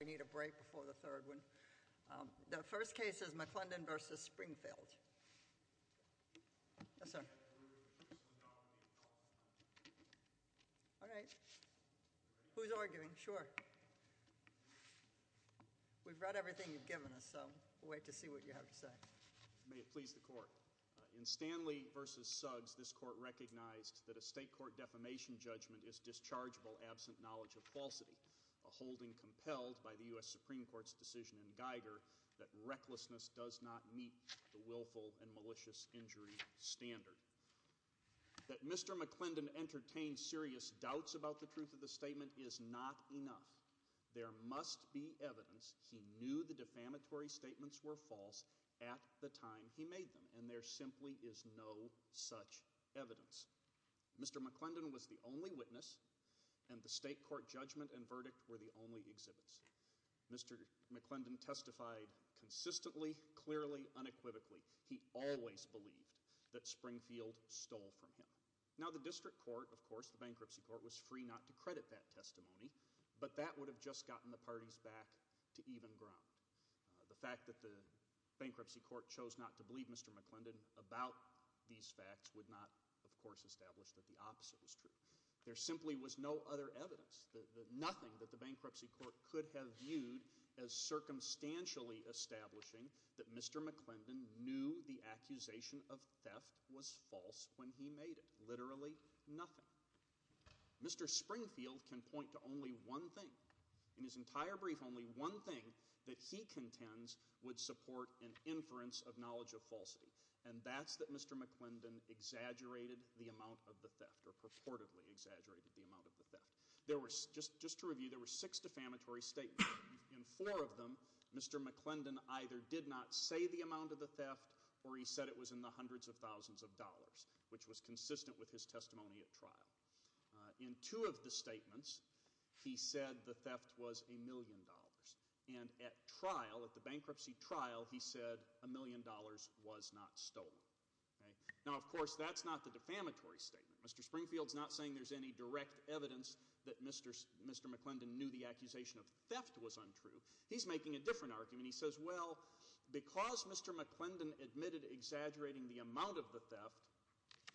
We need a break before the third one. The first case is McClendon v. Springfield. Yes, sir. All right. Who's arguing? Sure. We've read everything you've given us, so we'll wait to see what you have to say. May it please the court. In Stanley v. Suggs, this court recognized that a state court defamation judgment is dischargeable absent knowledge of falsity, a holding compelled by the U.S. Supreme Court's decision in Geiger that recklessness does not meet the willful and malicious injury standard. That Mr. McClendon entertained serious doubts about the truth of the statement is not enough. There must be evidence. He knew the defamatory statements were false at the time he made them, and there simply is no such evidence. Mr. McClendon was the only witness, and the state court judgment and verdict were the only exhibits. Mr. McClendon testified consistently, clearly, unequivocally. He always believed that Springfield stole from him. Now, the district court, of course, the bankruptcy court, was free not to credit that testimony, but that would have just gotten the parties back to even ground. The fact that the bankruptcy court chose not to believe Mr. McClendon about these facts would not, of course, establish that the opposite was true. There simply was no other evidence, nothing that the bankruptcy court could have viewed as circumstantially establishing that Mr. McClendon knew the accusation of theft was false when he made it. Literally nothing. Mr. Springfield can point to only one thing. In his entire brief, only one thing that he contends would support an inference of knowledge of falsity, and that's that Mr. McClendon exaggerated the amount of the theft or purportedly exaggerated the amount of the theft. Just to review, there were six defamatory statements. In four of them, Mr. McClendon either did not say the amount of the theft or he said it was in the hundreds of thousands of dollars, which was consistent with his testimony at trial. In two of the statements, he said the theft was a million dollars, and at trial, at the bankruptcy trial, he said a million dollars was not stolen. Now, of course, that's not the defamatory statement. Mr. Springfield's not saying there's any direct evidence that Mr. McClendon knew the accusation of theft was untrue. He's making a different argument. He says, well, because Mr. McClendon admitted exaggerating the amount of the theft,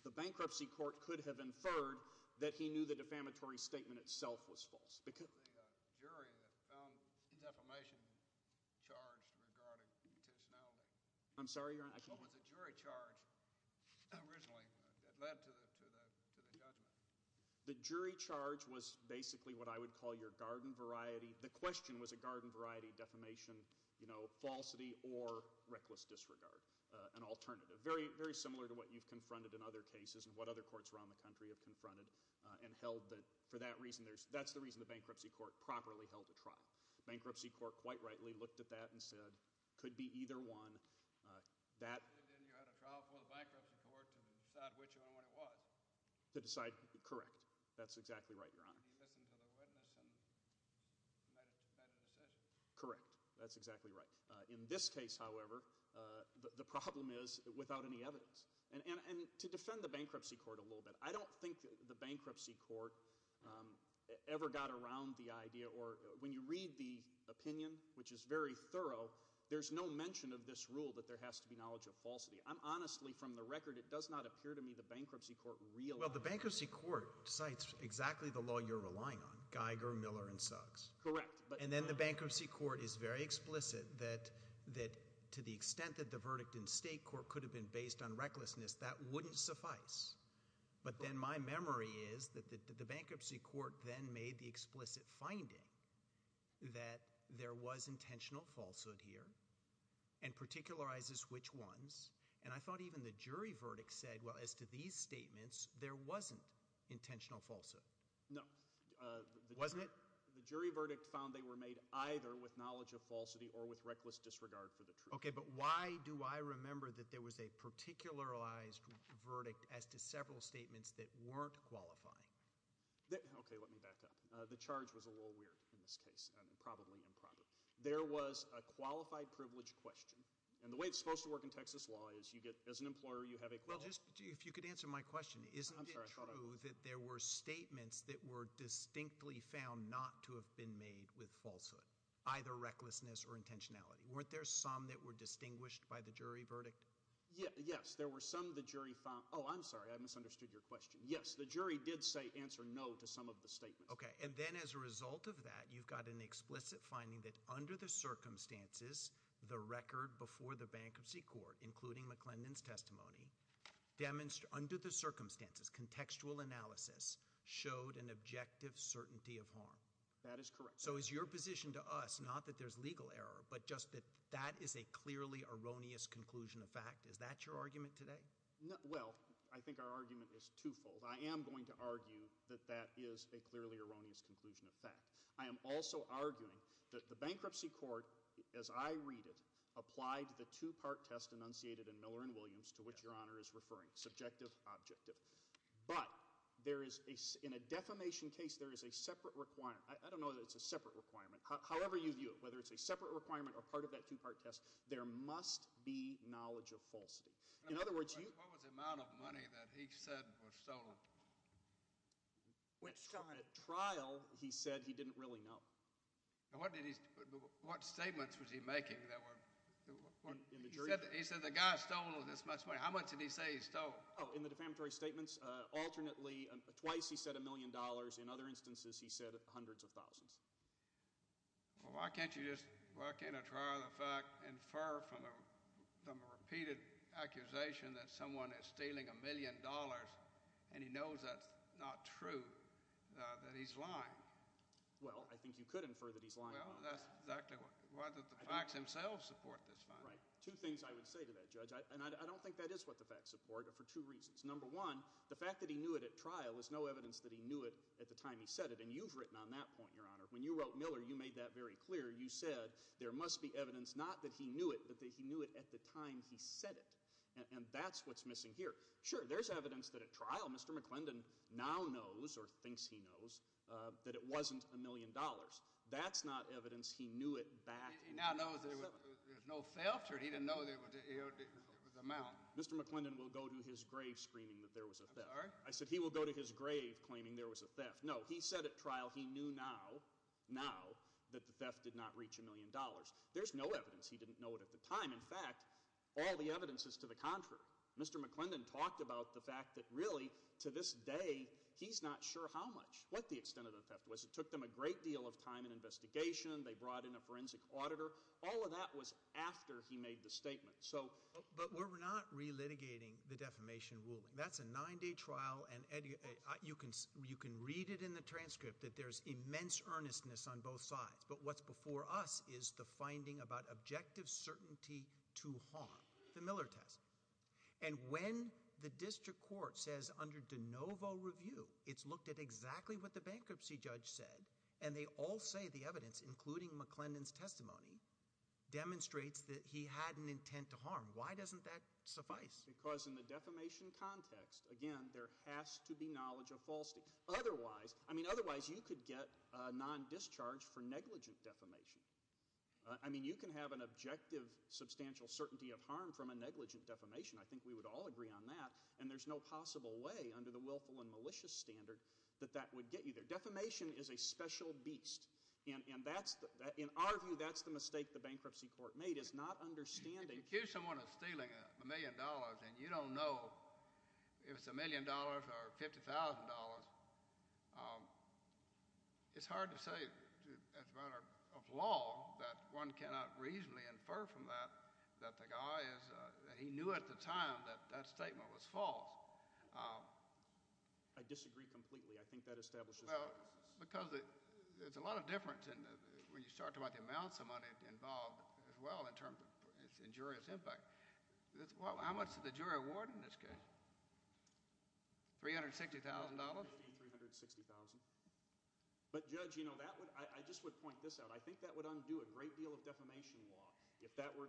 the bankruptcy court could have inferred that he knew the defamatory statement itself was false. The jury found defamation charged regarding intentionality. I'm sorry? Was the jury charge originally that led to the judgment? The jury charge was basically what I would call your garden variety – the question was a garden variety defamation, you know, falsity or reckless disregard, an alternative. Very similar to what you've confronted in other cases and what other courts around the country have confronted and held that, for that reason, that's the reason the bankruptcy court properly held a trial. The bankruptcy court, quite rightly, looked at that and said, could be either one. You had a trial for the bankruptcy court to decide which one it was? To decide – correct. That's exactly right, Your Honor. He listened to the witness and made a decision? Correct. That's exactly right. In this case, however, the problem is without any evidence. And to defend the bankruptcy court a little bit, I don't think the bankruptcy court ever got around the idea or – when you read the opinion, which is very thorough, there's no mention of this rule that there has to be knowledge of falsity. I'm honestly, from the record, it does not appear to me the bankruptcy court – Well, the bankruptcy court cites exactly the law you're relying on, Geiger, Miller, and Suggs. Correct. And then the bankruptcy court is very explicit that to the extent that the verdict in state court could have been based on recklessness, that wouldn't suffice. But then my memory is that the bankruptcy court then made the explicit finding that there was intentional falsehood here and particularizes which ones. And I thought even the jury verdict said, well, as to these statements, there wasn't intentional falsehood. No. Wasn't it? The jury verdict found they were made either with knowledge of falsity or with reckless disregard for the truth. Okay, but why do I remember that there was a particularized verdict as to several statements that weren't qualifying? Okay, let me back up. The charge was a little weird in this case and probably improper. There was a qualified privilege question. And the way it's supposed to work in Texas law is you get – as an employer, you have a – Well, just if you could answer my question, isn't it true that there were statements that were distinctly found not to have been made with falsehood, either recklessness or intentionality? Weren't there some that were distinguished by the jury verdict? Yes. There were some the jury found – oh, I'm sorry. I misunderstood your question. Yes, the jury did say answer no to some of the statements. Okay, and then as a result of that, you've got an explicit finding that under the circumstances, the record before the bankruptcy court, including McClendon's testimony, under the circumstances, contextual analysis, showed an objective certainty of harm. That is correct. So is your position to us not that there's legal error but just that that is a clearly erroneous conclusion of fact? Is that your argument today? Well, I think our argument is twofold. I am going to argue that that is a clearly erroneous conclusion of fact. I am also arguing that the bankruptcy court, as I read it, applied the two-part test enunciated in Miller and Williams to which Your Honor is referring, subjective, objective. But there is – in a defamation case, there is a separate – I don't know that it's a separate requirement. However you view it, whether it's a separate requirement or part of that two-part test, there must be knowledge of falsity. What was the amount of money that he said was stolen? At trial, he said he didn't really know. What statements was he making that were – he said the guy stole this much money. How much did he say he stole? Oh, in the defamatory statements, alternately, twice he said a million dollars. In other instances, he said hundreds of thousands. Well, why can't you just – why can't a trial of the fact infer from a repeated accusation that someone is stealing a million dollars and he knows that's not true, that he's lying? Well, I think you could infer that he's lying. Well, that's exactly what – why did the facts themselves support this finding? Right. Two things I would say to that, Judge, and I don't think that is what the facts support for two reasons. Number one, the fact that he knew it at trial is no evidence that he knew it at the time he said it. And you've written on that point, Your Honor. When you wrote Miller, you made that very clear. You said there must be evidence not that he knew it but that he knew it at the time he said it. And that's what's missing here. Sure, there's evidence that at trial Mr. McClendon now knows or thinks he knows that it wasn't a million dollars. That's not evidence he knew it back – He now knows there was no theft or he didn't know it was a mountain. Mr. McClendon will go to his grave screaming that there was a theft. I'm sorry? I said he will go to his grave claiming there was a theft. No, he said at trial he knew now, now, that the theft did not reach a million dollars. There's no evidence he didn't know it at the time. In fact, all the evidence is to the contrary. Mr. McClendon talked about the fact that really to this day he's not sure how much, what the extent of the theft was. It took them a great deal of time and investigation. They brought in a forensic auditor. All of that was after he made the statement. But we're not relitigating the defamation ruling. That's a nine-day trial and you can read it in the transcript that there's immense earnestness on both sides. But what's before us is the finding about objective certainty to harm, the Miller test. And when the district court says under de novo review it's looked at exactly what the bankruptcy judge said and they all say the evidence, including McClendon's testimony, demonstrates that he had an intent to harm, why doesn't that suffice? Because in the defamation context, again, there has to be knowledge of falsity. Otherwise, I mean otherwise you could get non-discharge for negligent defamation. I mean you can have an objective substantial certainty of harm from a negligent defamation. I think we would all agree on that. And there's no possible way under the willful and malicious standard that that would get you there. The defamation is a special beast. And that's, in our view, that's the mistake the bankruptcy court made is not understanding. If you accuse someone of stealing a million dollars and you don't know if it's a million dollars or $50,000, it's hard to say as a matter of law that one cannot reasonably infer from that that the guy is, he knew at the time that that statement was false. I disagree completely. I think that establishes. Well, because it's a lot of difference when you start talking about the amounts of money involved as well in terms of injurious impact. How much did the jury award in this case? $360,000? $350,000, $360,000. But, Judge, I just would point this out. I think that would undo a great deal of defamation law.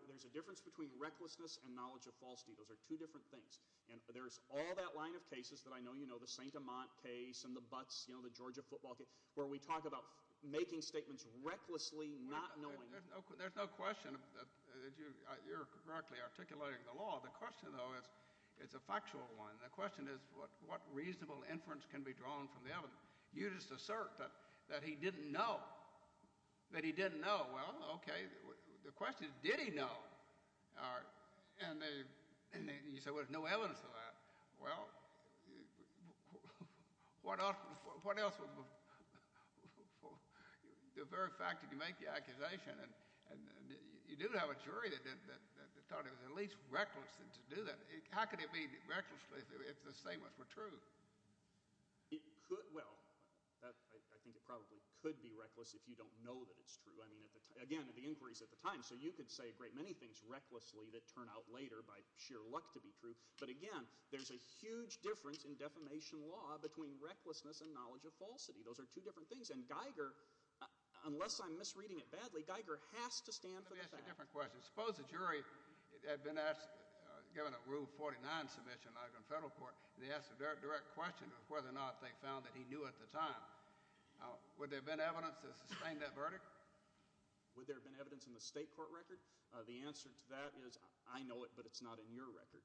There's a difference between recklessness and knowledge of falsity. Those are two different things. And there's all that line of cases that I know you know, the St. Amant case and the Butts, you know, the Georgia football case, where we talk about making statements recklessly not knowing. There's no question that you're correctly articulating the law. The question, though, is a factual one. The question is what reasonable inference can be drawn from the evidence. You just assert that he didn't know, that he didn't know. Well, okay. The question is did he know? And you say, well, there's no evidence of that. Well, what else? The very fact that you make the accusation, and you do have a jury that thought it was at least reckless to do that. How could it be reckless if the statements were true? Well, I think it probably could be reckless if you don't know that it's true. I mean, again, the inquiries at the time. So you could say a great many things recklessly that turn out later by sheer luck to be true. But, again, there's a huge difference in defamation law between recklessness and knowledge of falsity. Those are two different things. And Geiger, unless I'm misreading it badly, Geiger has to stand for the fact. Let me ask you a different question. Suppose the jury had been asked, given a Rule 49 submission like in federal court, and they asked a direct question of whether or not they found that he knew at the time. Would there have been evidence to sustain that verdict? Would there have been evidence in the state court record? The answer to that is I know it, but it's not in your record.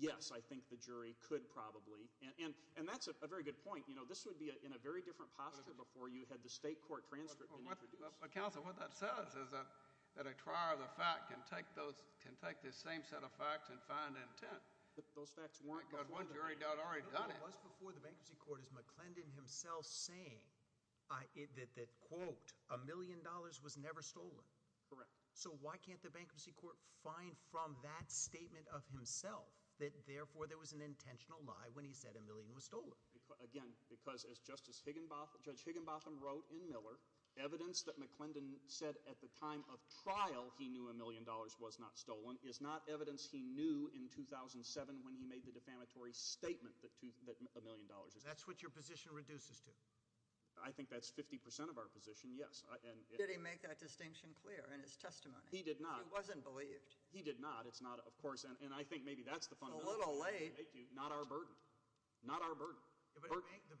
Yes, I think the jury could probably. And that's a very good point. You know, this would be in a very different posture before you had the state court transcript been introduced. But, counsel, what that says is that a trier of the fact can take this same set of facts and find intent. Those facts weren't before. Because one jury had already done it. It was before the bankruptcy court. Is McClendon himself saying that, quote, a million dollars was never stolen? Correct. So why can't the bankruptcy court find from that statement of himself that, therefore, there was an intentional lie when he said a million was stolen? Again, because as Justice Higginbotham, Judge Higginbotham wrote in Miller, evidence that McClendon said at the time of trial he knew a million dollars was not stolen is not evidence he knew in 2007 when he made the defamatory statement that a million dollars was stolen. That's what your position reduces to? I think that's 50 percent of our position, yes. Did he make that distinction clear in his testimony? He did not. He wasn't believed. He did not. It's not, of course, and I think maybe that's the fundamental point. A little late. Not our burden. Not our burden. The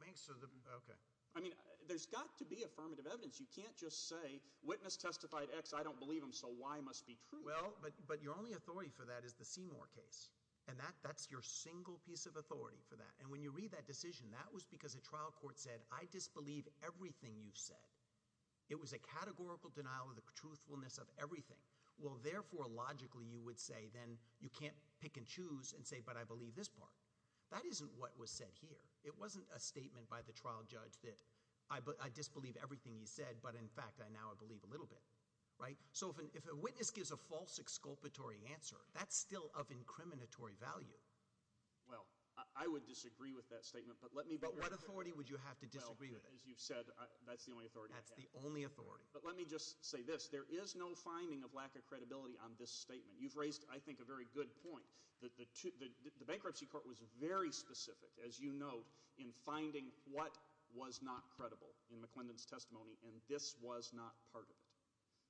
banks are the – okay. I mean, there's got to be affirmative evidence. You can't just say witness testified X, I don't believe him, so Y must be true. Well, but your only authority for that is the Seymour case, and that's your single piece of authority for that. And when you read that decision, that was because a trial court said, I disbelieve everything you've said. It was a categorical denial of the truthfulness of everything. Well, therefore, logically you would say then you can't pick and choose and say, but I believe this part. That isn't what was said here. It wasn't a statement by the trial judge that I disbelieve everything he said, but, in fact, I now believe a little bit. Right? So if a witness gives a false exculpatory answer, that's still of incriminatory value. Well, I would disagree with that statement, but let me – But what authority would you have to disagree with it? Well, as you've said, that's the only authority I have. That's the only authority. But let me just say this. There is no finding of lack of credibility on this statement. You've raised, I think, a very good point. The bankruptcy court was very specific, as you note, in finding what was not credible in McClendon's testimony, and this was not part of it.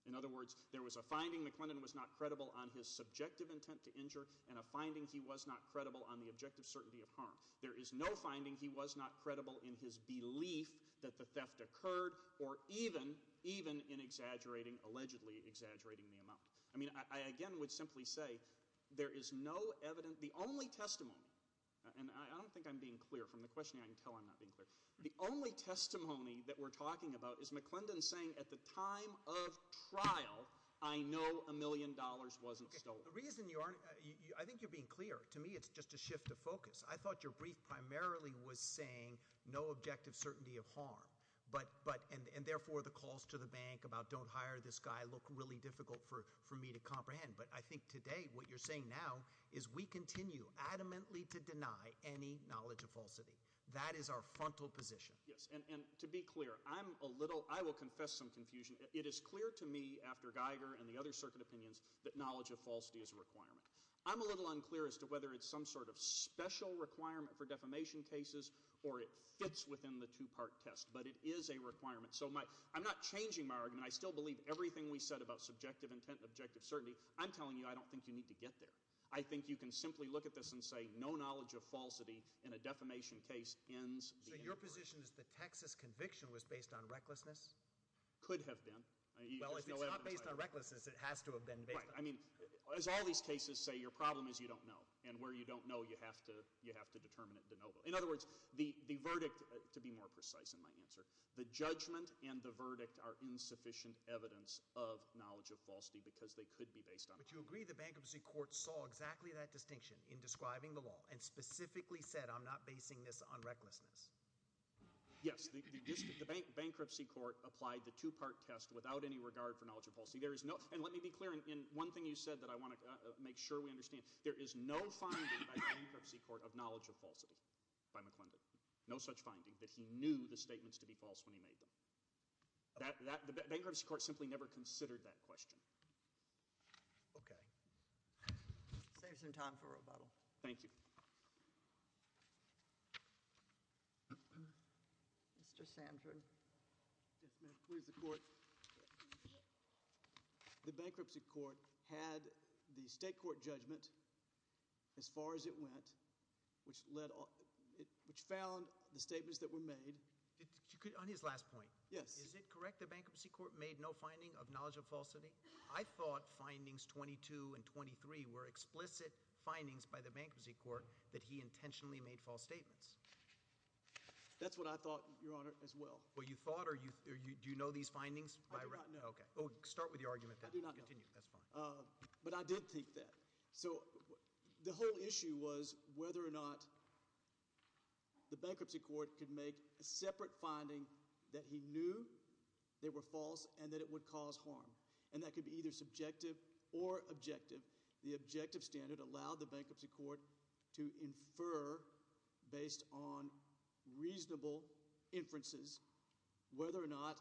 In other words, there was a finding McClendon was not credible on his subjective intent to injure and a finding he was not credible on the objective certainty of harm. There is no finding he was not credible in his belief that the theft occurred or even in exaggerating, allegedly exaggerating the amount. I mean, I again would simply say there is no evidence – the only testimony, and I don't think I'm being clear from the questioning. I can tell I'm not being clear. The only testimony that we're talking about is McClendon saying at the time of trial, I know a million dollars wasn't stolen. The reason you aren't – I think you're being clear. To me, it's just a shift of focus. I thought your brief primarily was saying no objective certainty of harm. And therefore, the calls to the bank about don't hire this guy look really difficult for me to comprehend. But I think today what you're saying now is we continue adamantly to deny any knowledge of falsity. That is our frontal position. Yes, and to be clear, I'm a little – I will confess some confusion. It is clear to me after Geiger and the other circuit opinions that knowledge of falsity is a requirement. I'm a little unclear as to whether it's some sort of special requirement for defamation cases or it fits within the two-part test. But it is a requirement. So I'm not changing my argument. I still believe everything we said about subjective intent and objective certainty. I'm telling you I don't think you need to get there. I think you can simply look at this and say no knowledge of falsity in a defamation case ends the inquiry. So your position is the Texas conviction was based on recklessness? Could have been. Well, if it's not based on recklessness, it has to have been based on – Right. I mean, as all these cases say, your problem is you don't know. And where you don't know, you have to determine it de novo. In other words, the verdict, to be more precise in my answer, the judgment and the verdict are insufficient evidence of knowledge of falsity because they could be based on – But you agree the bankruptcy court saw exactly that distinction in describing the law and specifically said I'm not basing this on recklessness? Yes. The bankruptcy court applied the two-part test without any regard for knowledge of falsity. And let me be clear in one thing you said that I want to make sure we understand. There is no finding by the bankruptcy court of knowledge of falsity by McClendon. No such finding that he knew the statements to be false when he made them. The bankruptcy court simply never considered that question. Okay. Save some time for rebuttal. Thank you. Yes, ma'am. Please, the court. The bankruptcy court had the state court judgment as far as it went, which led – which found the statements that were made. On his last point. Yes. Is it correct the bankruptcy court made no finding of knowledge of falsity? I thought findings 22 and 23 were explicit findings by the bankruptcy court that he intentionally made false statements. That's what I thought, Your Honor, as well. Well, you thought or you – do you know these findings? No. Okay. Start with your argument then. I do not know. Continue. That's fine. But I did think that. So the whole issue was whether or not the bankruptcy court could make a separate finding that he knew they were false and that it would cause harm. And that could be either subjective or objective. The objective standard allowed the bankruptcy court to infer based on reasonable inferences whether or not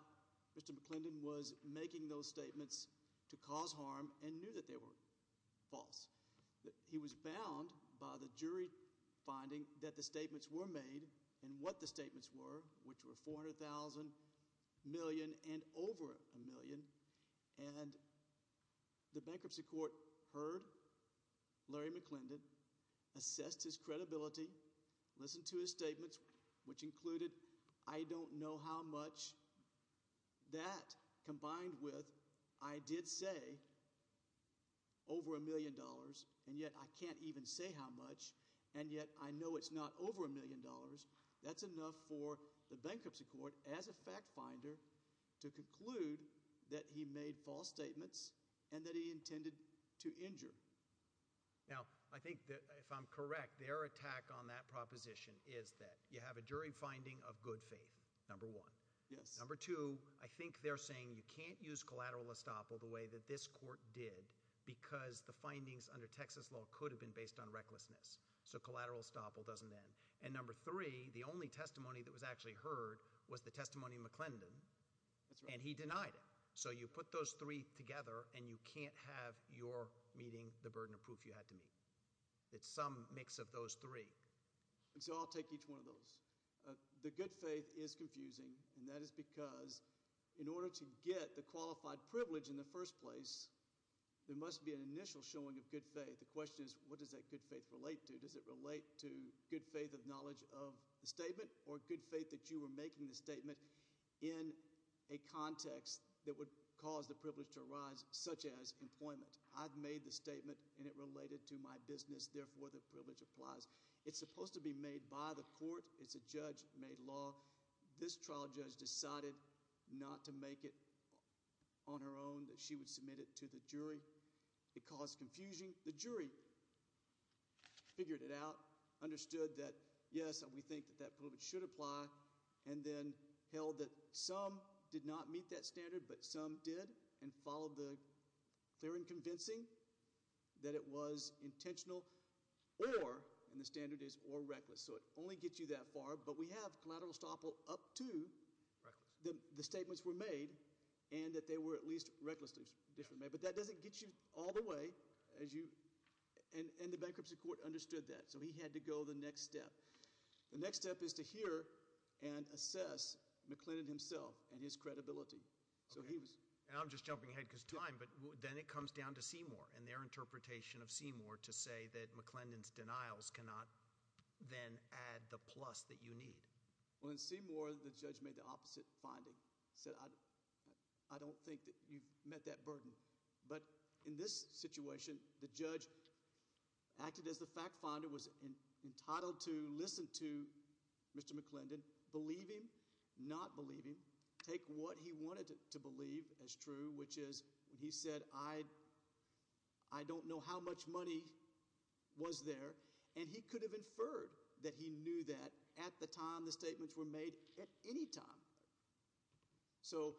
Mr. McClendon was making those statements to cause harm and knew that they were false. He was bound by the jury finding that the statements were made and what the statements were, which were $400,000 million and over a million. And the bankruptcy court heard Larry McClendon, assessed his credibility, listened to his statements, which included I don't know how much. That combined with I did say over a million dollars, and yet I can't even say how much, and yet I know it's not over a million dollars. That's enough for the bankruptcy court as a fact finder to conclude that he made false statements and that he intended to injure. Now, I think that if I'm correct, their attack on that proposition is that you have a jury finding of good faith, number one. Yes. Number two, I think they're saying you can't use collateral estoppel the way that this court did because the findings under Texas law could have been based on recklessness. So collateral estoppel doesn't end. And number three, the only testimony that was actually heard was the testimony of McClendon, and he denied it. So you put those three together, and you can't have your meeting the burden of proof you had to meet. It's some mix of those three. So I'll take each one of those. The good faith is confusing, and that is because in order to get the qualified privilege in the first place, there must be an initial showing of good faith. The question is what does that good faith relate to? Does it relate to good faith of knowledge of the statement or good faith that you were making the statement in a context that would cause the privilege to arise, such as employment? I've made the statement, and it related to my business. Therefore, the privilege applies. It's supposed to be made by the court. It's a judge-made law. This trial judge decided not to make it on her own, that she would submit it to the jury. It caused confusion. The jury figured it out, understood that, yes, we think that that privilege should apply, and then held that some did not meet that standard, but some did, and followed the clear and convincing that it was intentional or, and the standard is or reckless. So it only gets you that far, but we have collateral estoppel up to the statements were made and that they were at least recklessly made. But that doesn't get you all the way as you, and the bankruptcy court understood that. So he had to go the next step. The next step is to hear and assess McClendon himself and his credibility. So he was- And I'm just jumping ahead because of time, but then it comes down to Seymour and their interpretation of Seymour to say that McClendon's denials cannot then add the plus that you need. Well, in Seymour, the judge made the opposite finding. He said, I don't think that you've met that burden. But in this situation, the judge acted as the fact finder, was entitled to listen to Mr. McClendon, believe him, not believe him, take what he wanted to believe as true, which is when he said, I don't know how much money was there, and he could have inferred that he knew that at the time the statements were made at any time. So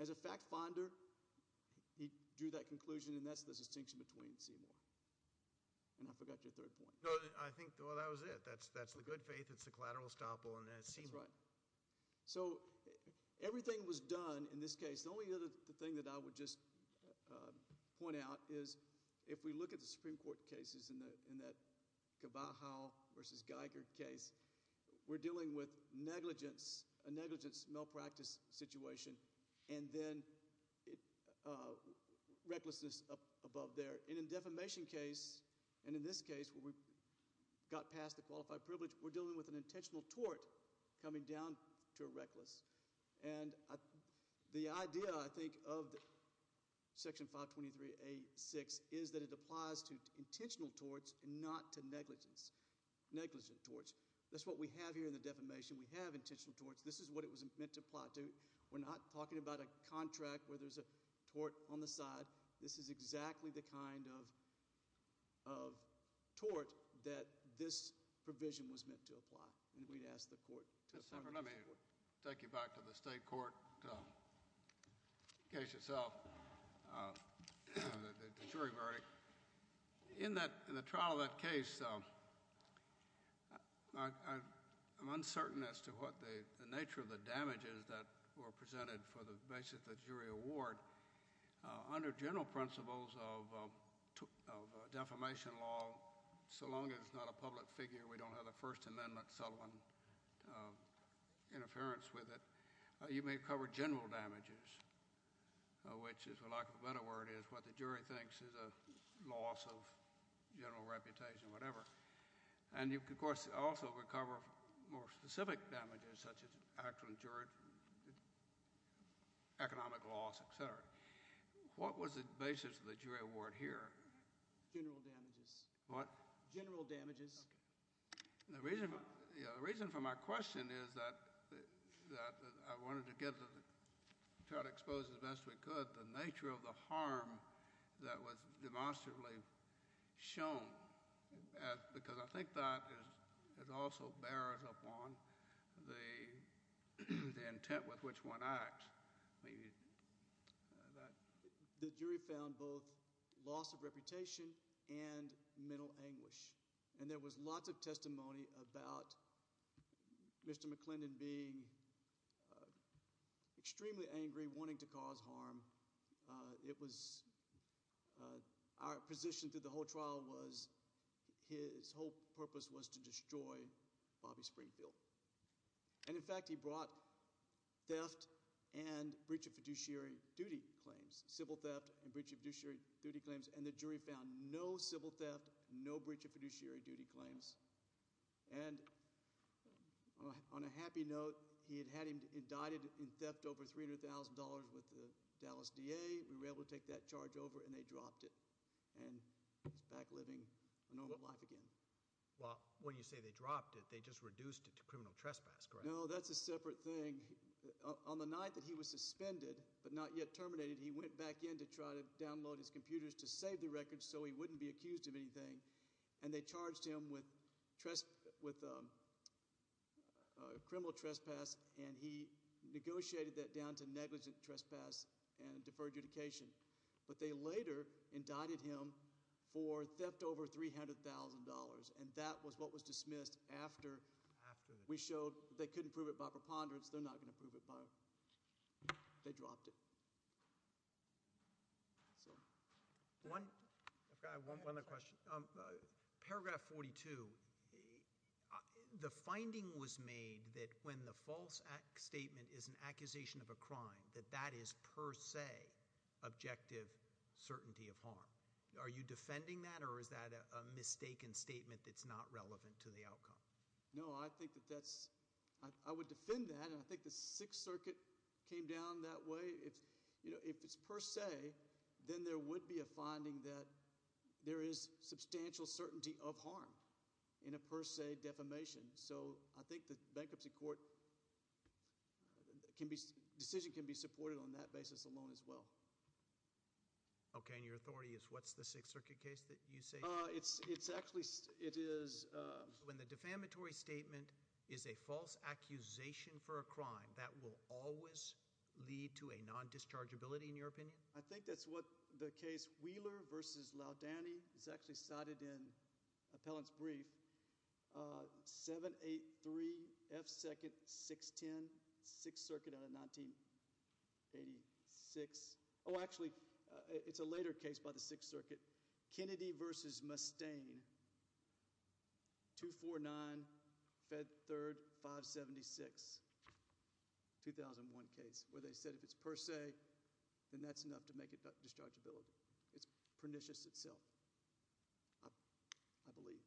as a fact finder, he drew that conclusion, and that's the distinction between Seymour. And I forgot your third point. No, I think, well, that was it. That's the good faith, it's the collateral estoppel, and that's Seymour. That's right. So everything was done in this case. The only other thing that I would just point out is if we look at the Supreme Court cases in that Cavajo versus Geiger case, we're dealing with negligence, a negligence malpractice situation, and then recklessness up above there. And in the defamation case, and in this case where we got past the qualified privilege, we're dealing with an intentional tort coming down to a reckless. And the idea, I think, of Section 523A6 is that it applies to intentional torts and not to negligence, negligent torts. That's what we have here in the defamation. We have intentional torts. This is what it was meant to apply to. We're not talking about a contract where there's a tort on the side. This is exactly the kind of tort that this provision was meant to apply. And we'd ask the court to affirm this. Let me take you back to the state court case itself, the jury verdict. In the trial of that case, I'm uncertain as to what the nature of the damages that were presented for the basis of the jury award. Under general principles of defamation law, so long as it's not a public figure, we don't have a First Amendment settlement interference with it, you may cover general damages, which, for lack of a better word, is what the jury thinks is a loss of general reputation, whatever. And you can, of course, also recover more specific damages, such as actual juridic, economic loss, et cetera. What was the basis of the jury award here? General damages. What? General damages. The reason for my question is that I wanted to try to expose as best we could the nature of the harm that was demonstrably shown, because I think that also bears upon the intent with which one acts. The jury found both loss of reputation and mental anguish. And there was lots of testimony about Mr. McClendon being extremely angry, wanting to cause harm. It was our position through the whole trial was his whole purpose was to destroy Bobby Springfield. And, in fact, he brought theft and breach of fiduciary duty claims, civil theft and breach of fiduciary duty claims, and the jury found no civil theft, no breach of fiduciary duty claims. And on a happy note, he had had him indicted in theft over $300,000 with the Dallas DA. We were able to take that charge over, and they dropped it, and he's back living a normal life again. Well, when you say they dropped it, they just reduced it to criminal trespass, correct? No, that's a separate thing. On the night that he was suspended but not yet terminated, he went back in to try to download his computers to save the record so he wouldn't be accused of anything, and they charged him with criminal trespass, and he negotiated that down to negligent trespass and deferred adjudication. But they later indicted him for theft over $300,000, and that was what was dismissed after we showed they couldn't prove it by preponderance. They're not going to prove it by it. They dropped it. I've got one other question. Paragraph 42, the finding was made that when the false statement is an accusation of a crime, that that is per se objective certainty of harm. Are you defending that, or is that a mistaken statement that's not relevant to the outcome? No, I think that that's – I would defend that, and I think the Sixth Circuit came down that way. If it's per se, then there would be a finding that there is substantial certainty of harm in a per se defamation. So I think the bankruptcy court can be – decision can be supported on that basis alone as well. Okay, and your authority is what's the Sixth Circuit case that you say? It's actually – it is – When the defamatory statement is a false accusation for a crime, that will always lead to a non-dischargeability in your opinion? I think that's what the case Wheeler v. Laudani is actually cited in Appellant's brief, 783 F. 2nd. 610. Sixth Circuit out of 1986 – oh, actually, it's a later case by the Sixth Circuit. Kennedy v. Mustaine, 249 F. 3rd. 576, 2001 case, where they said if it's per se, then that's enough to make it dischargeability. It's pernicious itself, I believe.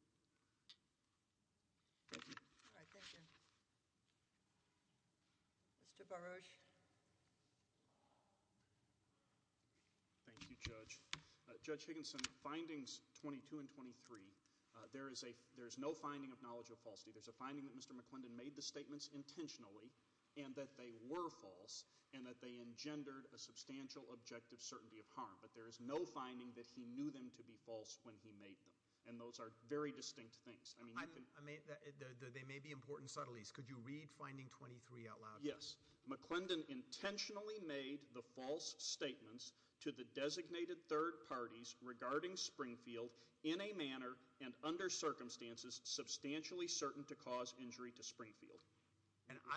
Thank you. All right, thank you. Mr. Baruch. Thank you, Judge. Judge Higginson, findings 22 and 23, there is no finding of knowledge of falsity. There's a finding that Mr. McClendon made the statements intentionally and that they were false and that they engendered a substantial objective certainty of harm. But there is no finding that he knew them to be false when he made them, and those are very distinct things. They may be important subtleties. Could you read finding 23 out loud? Yes. McClendon intentionally made the false statements to the designated third parties regarding Springfield in a manner and under circumstances substantially certain to cause injury to Springfield.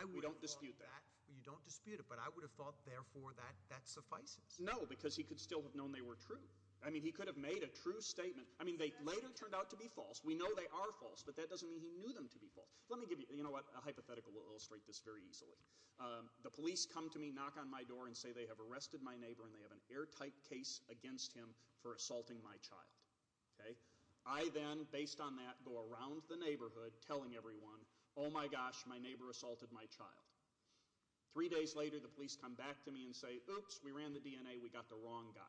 We don't dispute that. You don't dispute it, but I would have thought, therefore, that that suffices. No, because he could still have known they were true. I mean, he could have made a true statement. I mean, they later turned out to be false. We know they are false, but that doesn't mean he knew them to be false. You know what? A hypothetical will illustrate this very easily. The police come to me, knock on my door, and say they have arrested my neighbor and they have an airtight case against him for assaulting my child. I then, based on that, go around the neighborhood telling everyone, oh my gosh, my neighbor assaulted my child. Three days later, the police come back to me and say, oops, we ran the DNA. We got the wrong guy.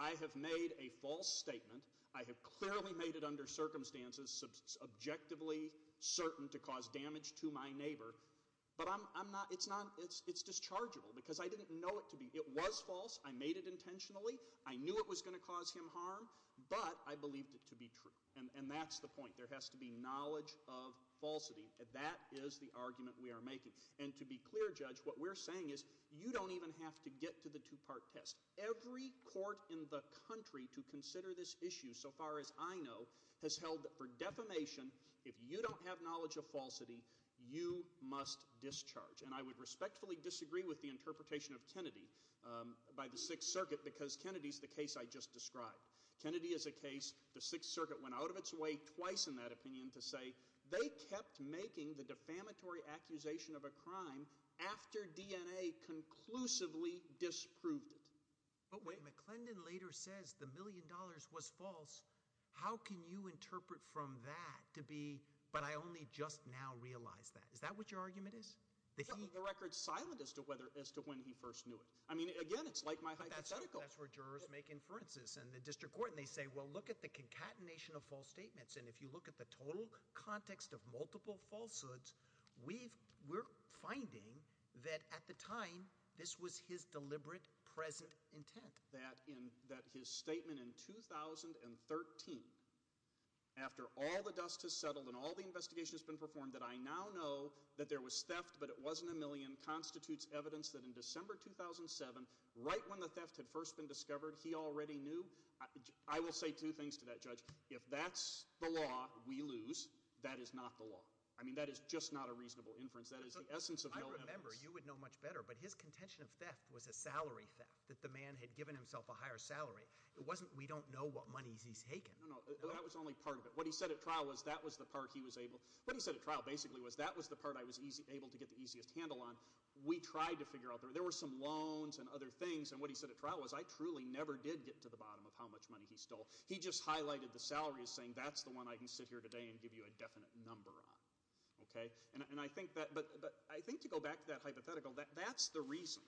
I have made a false statement. I have clearly made it under circumstances subjectively certain to cause damage to my neighbor. But it's dischargeable because I didn't know it to be. It was false. I made it intentionally. I knew it was going to cause him harm, but I believed it to be true. And that's the point. There has to be knowledge of falsity. That is the argument we are making. And to be clear, Judge, what we're saying is you don't even have to get to the two-part test. Every court in the country to consider this issue, so far as I know, has held that for defamation, if you don't have knowledge of falsity, you must discharge. And I would respectfully disagree with the interpretation of Kennedy by the Sixth Circuit because Kennedy is the case I just described. Kennedy is a case the Sixth Circuit went out of its way twice in that opinion to say they kept making the defamatory accusation of a crime after DNA conclusively disproved it. But when McClendon later says the million dollars was false, how can you interpret from that to be, but I only just now realized that? Is that what your argument is? The record is silent as to when he first knew it. Again, it's like my hypothetical. That's where jurors make inferences in the district court. And they say, well, look at the concatenation of false statements. And if you look at the total context of multiple falsehoods, we're finding that at the time this was his deliberate present intent. That his statement in 2013, after all the dust has settled and all the investigation has been performed, that I now know that there was theft but it wasn't a million, constitutes evidence that in December 2007, right when the theft had first been discovered, he already knew. I will say two things to that judge. If that's the law, we lose. That is not the law. I mean, that is just not a reasonable inference. That is the essence of million dollars. I remember. You would know much better. But his contention of theft was a salary theft, that the man had given himself a higher salary. It wasn't we don't know what monies he's taken. No, no. That was only part of it. What he said at trial was that was the part he was able – what he said at trial basically was that was the part I was able to get the easiest handle on. We tried to figure out – there were some loans and other things. And what he said at trial was I truly never did get to the bottom of how much money he stole. He just highlighted the salary as saying that's the one I can sit here today and give you a definite number on. Okay? And I think that – but I think to go back to that hypothetical, that's the reason.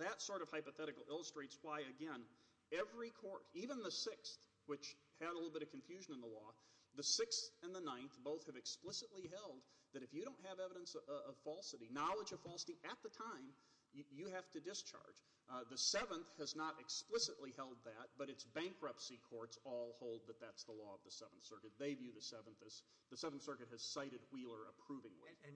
That sort of hypothetical illustrates why, again, every court, even the 6th, which had a little bit of confusion in the law, the 6th and the 9th both have explicitly held that if you don't have evidence of falsity, knowledge of falsity, at the time, you have to discharge. The 7th has not explicitly held that, but its bankruptcy courts all hold that that's the law of the 7th Circuit. They view the 7th as – the 7th Circuit has cited Wheeler approvingly. And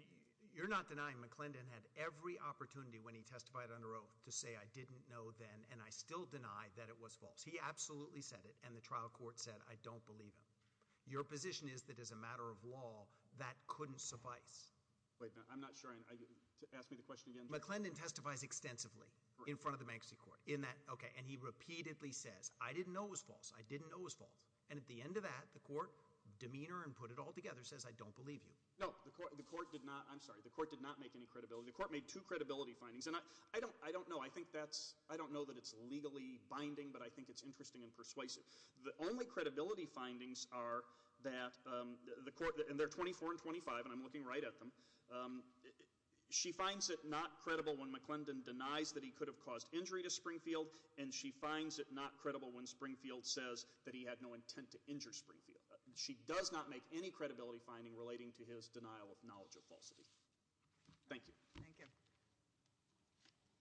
you're not denying McClendon had every opportunity when he testified under oath to say I didn't know then and I still deny that it was false. He absolutely said it, and the trial court said I don't believe him. Your position is that as a matter of law, that couldn't suffice. Wait a minute. I'm not sure I – ask me the question again. McClendon testifies extensively in front of the bankruptcy court. And he repeatedly says I didn't know it was false. I didn't know it was false. And at the end of that, the court, demeanor and put it all together, says I don't believe you. No, the court did not – I'm sorry. The court did not make any credibility. The court made two credibility findings. And I don't know. I think that's – I don't know that it's legally binding, but I think it's interesting and persuasive. The only credibility findings are that the court – and they're 24 and 25, and I'm looking right at them. She finds it not credible when McClendon denies that he could have caused injury to Springfield, and she finds it not credible when Springfield says that he had no intent to injure Springfield. She does not make any credibility finding relating to his denial of knowledge of falsity. Thank you. Thank you.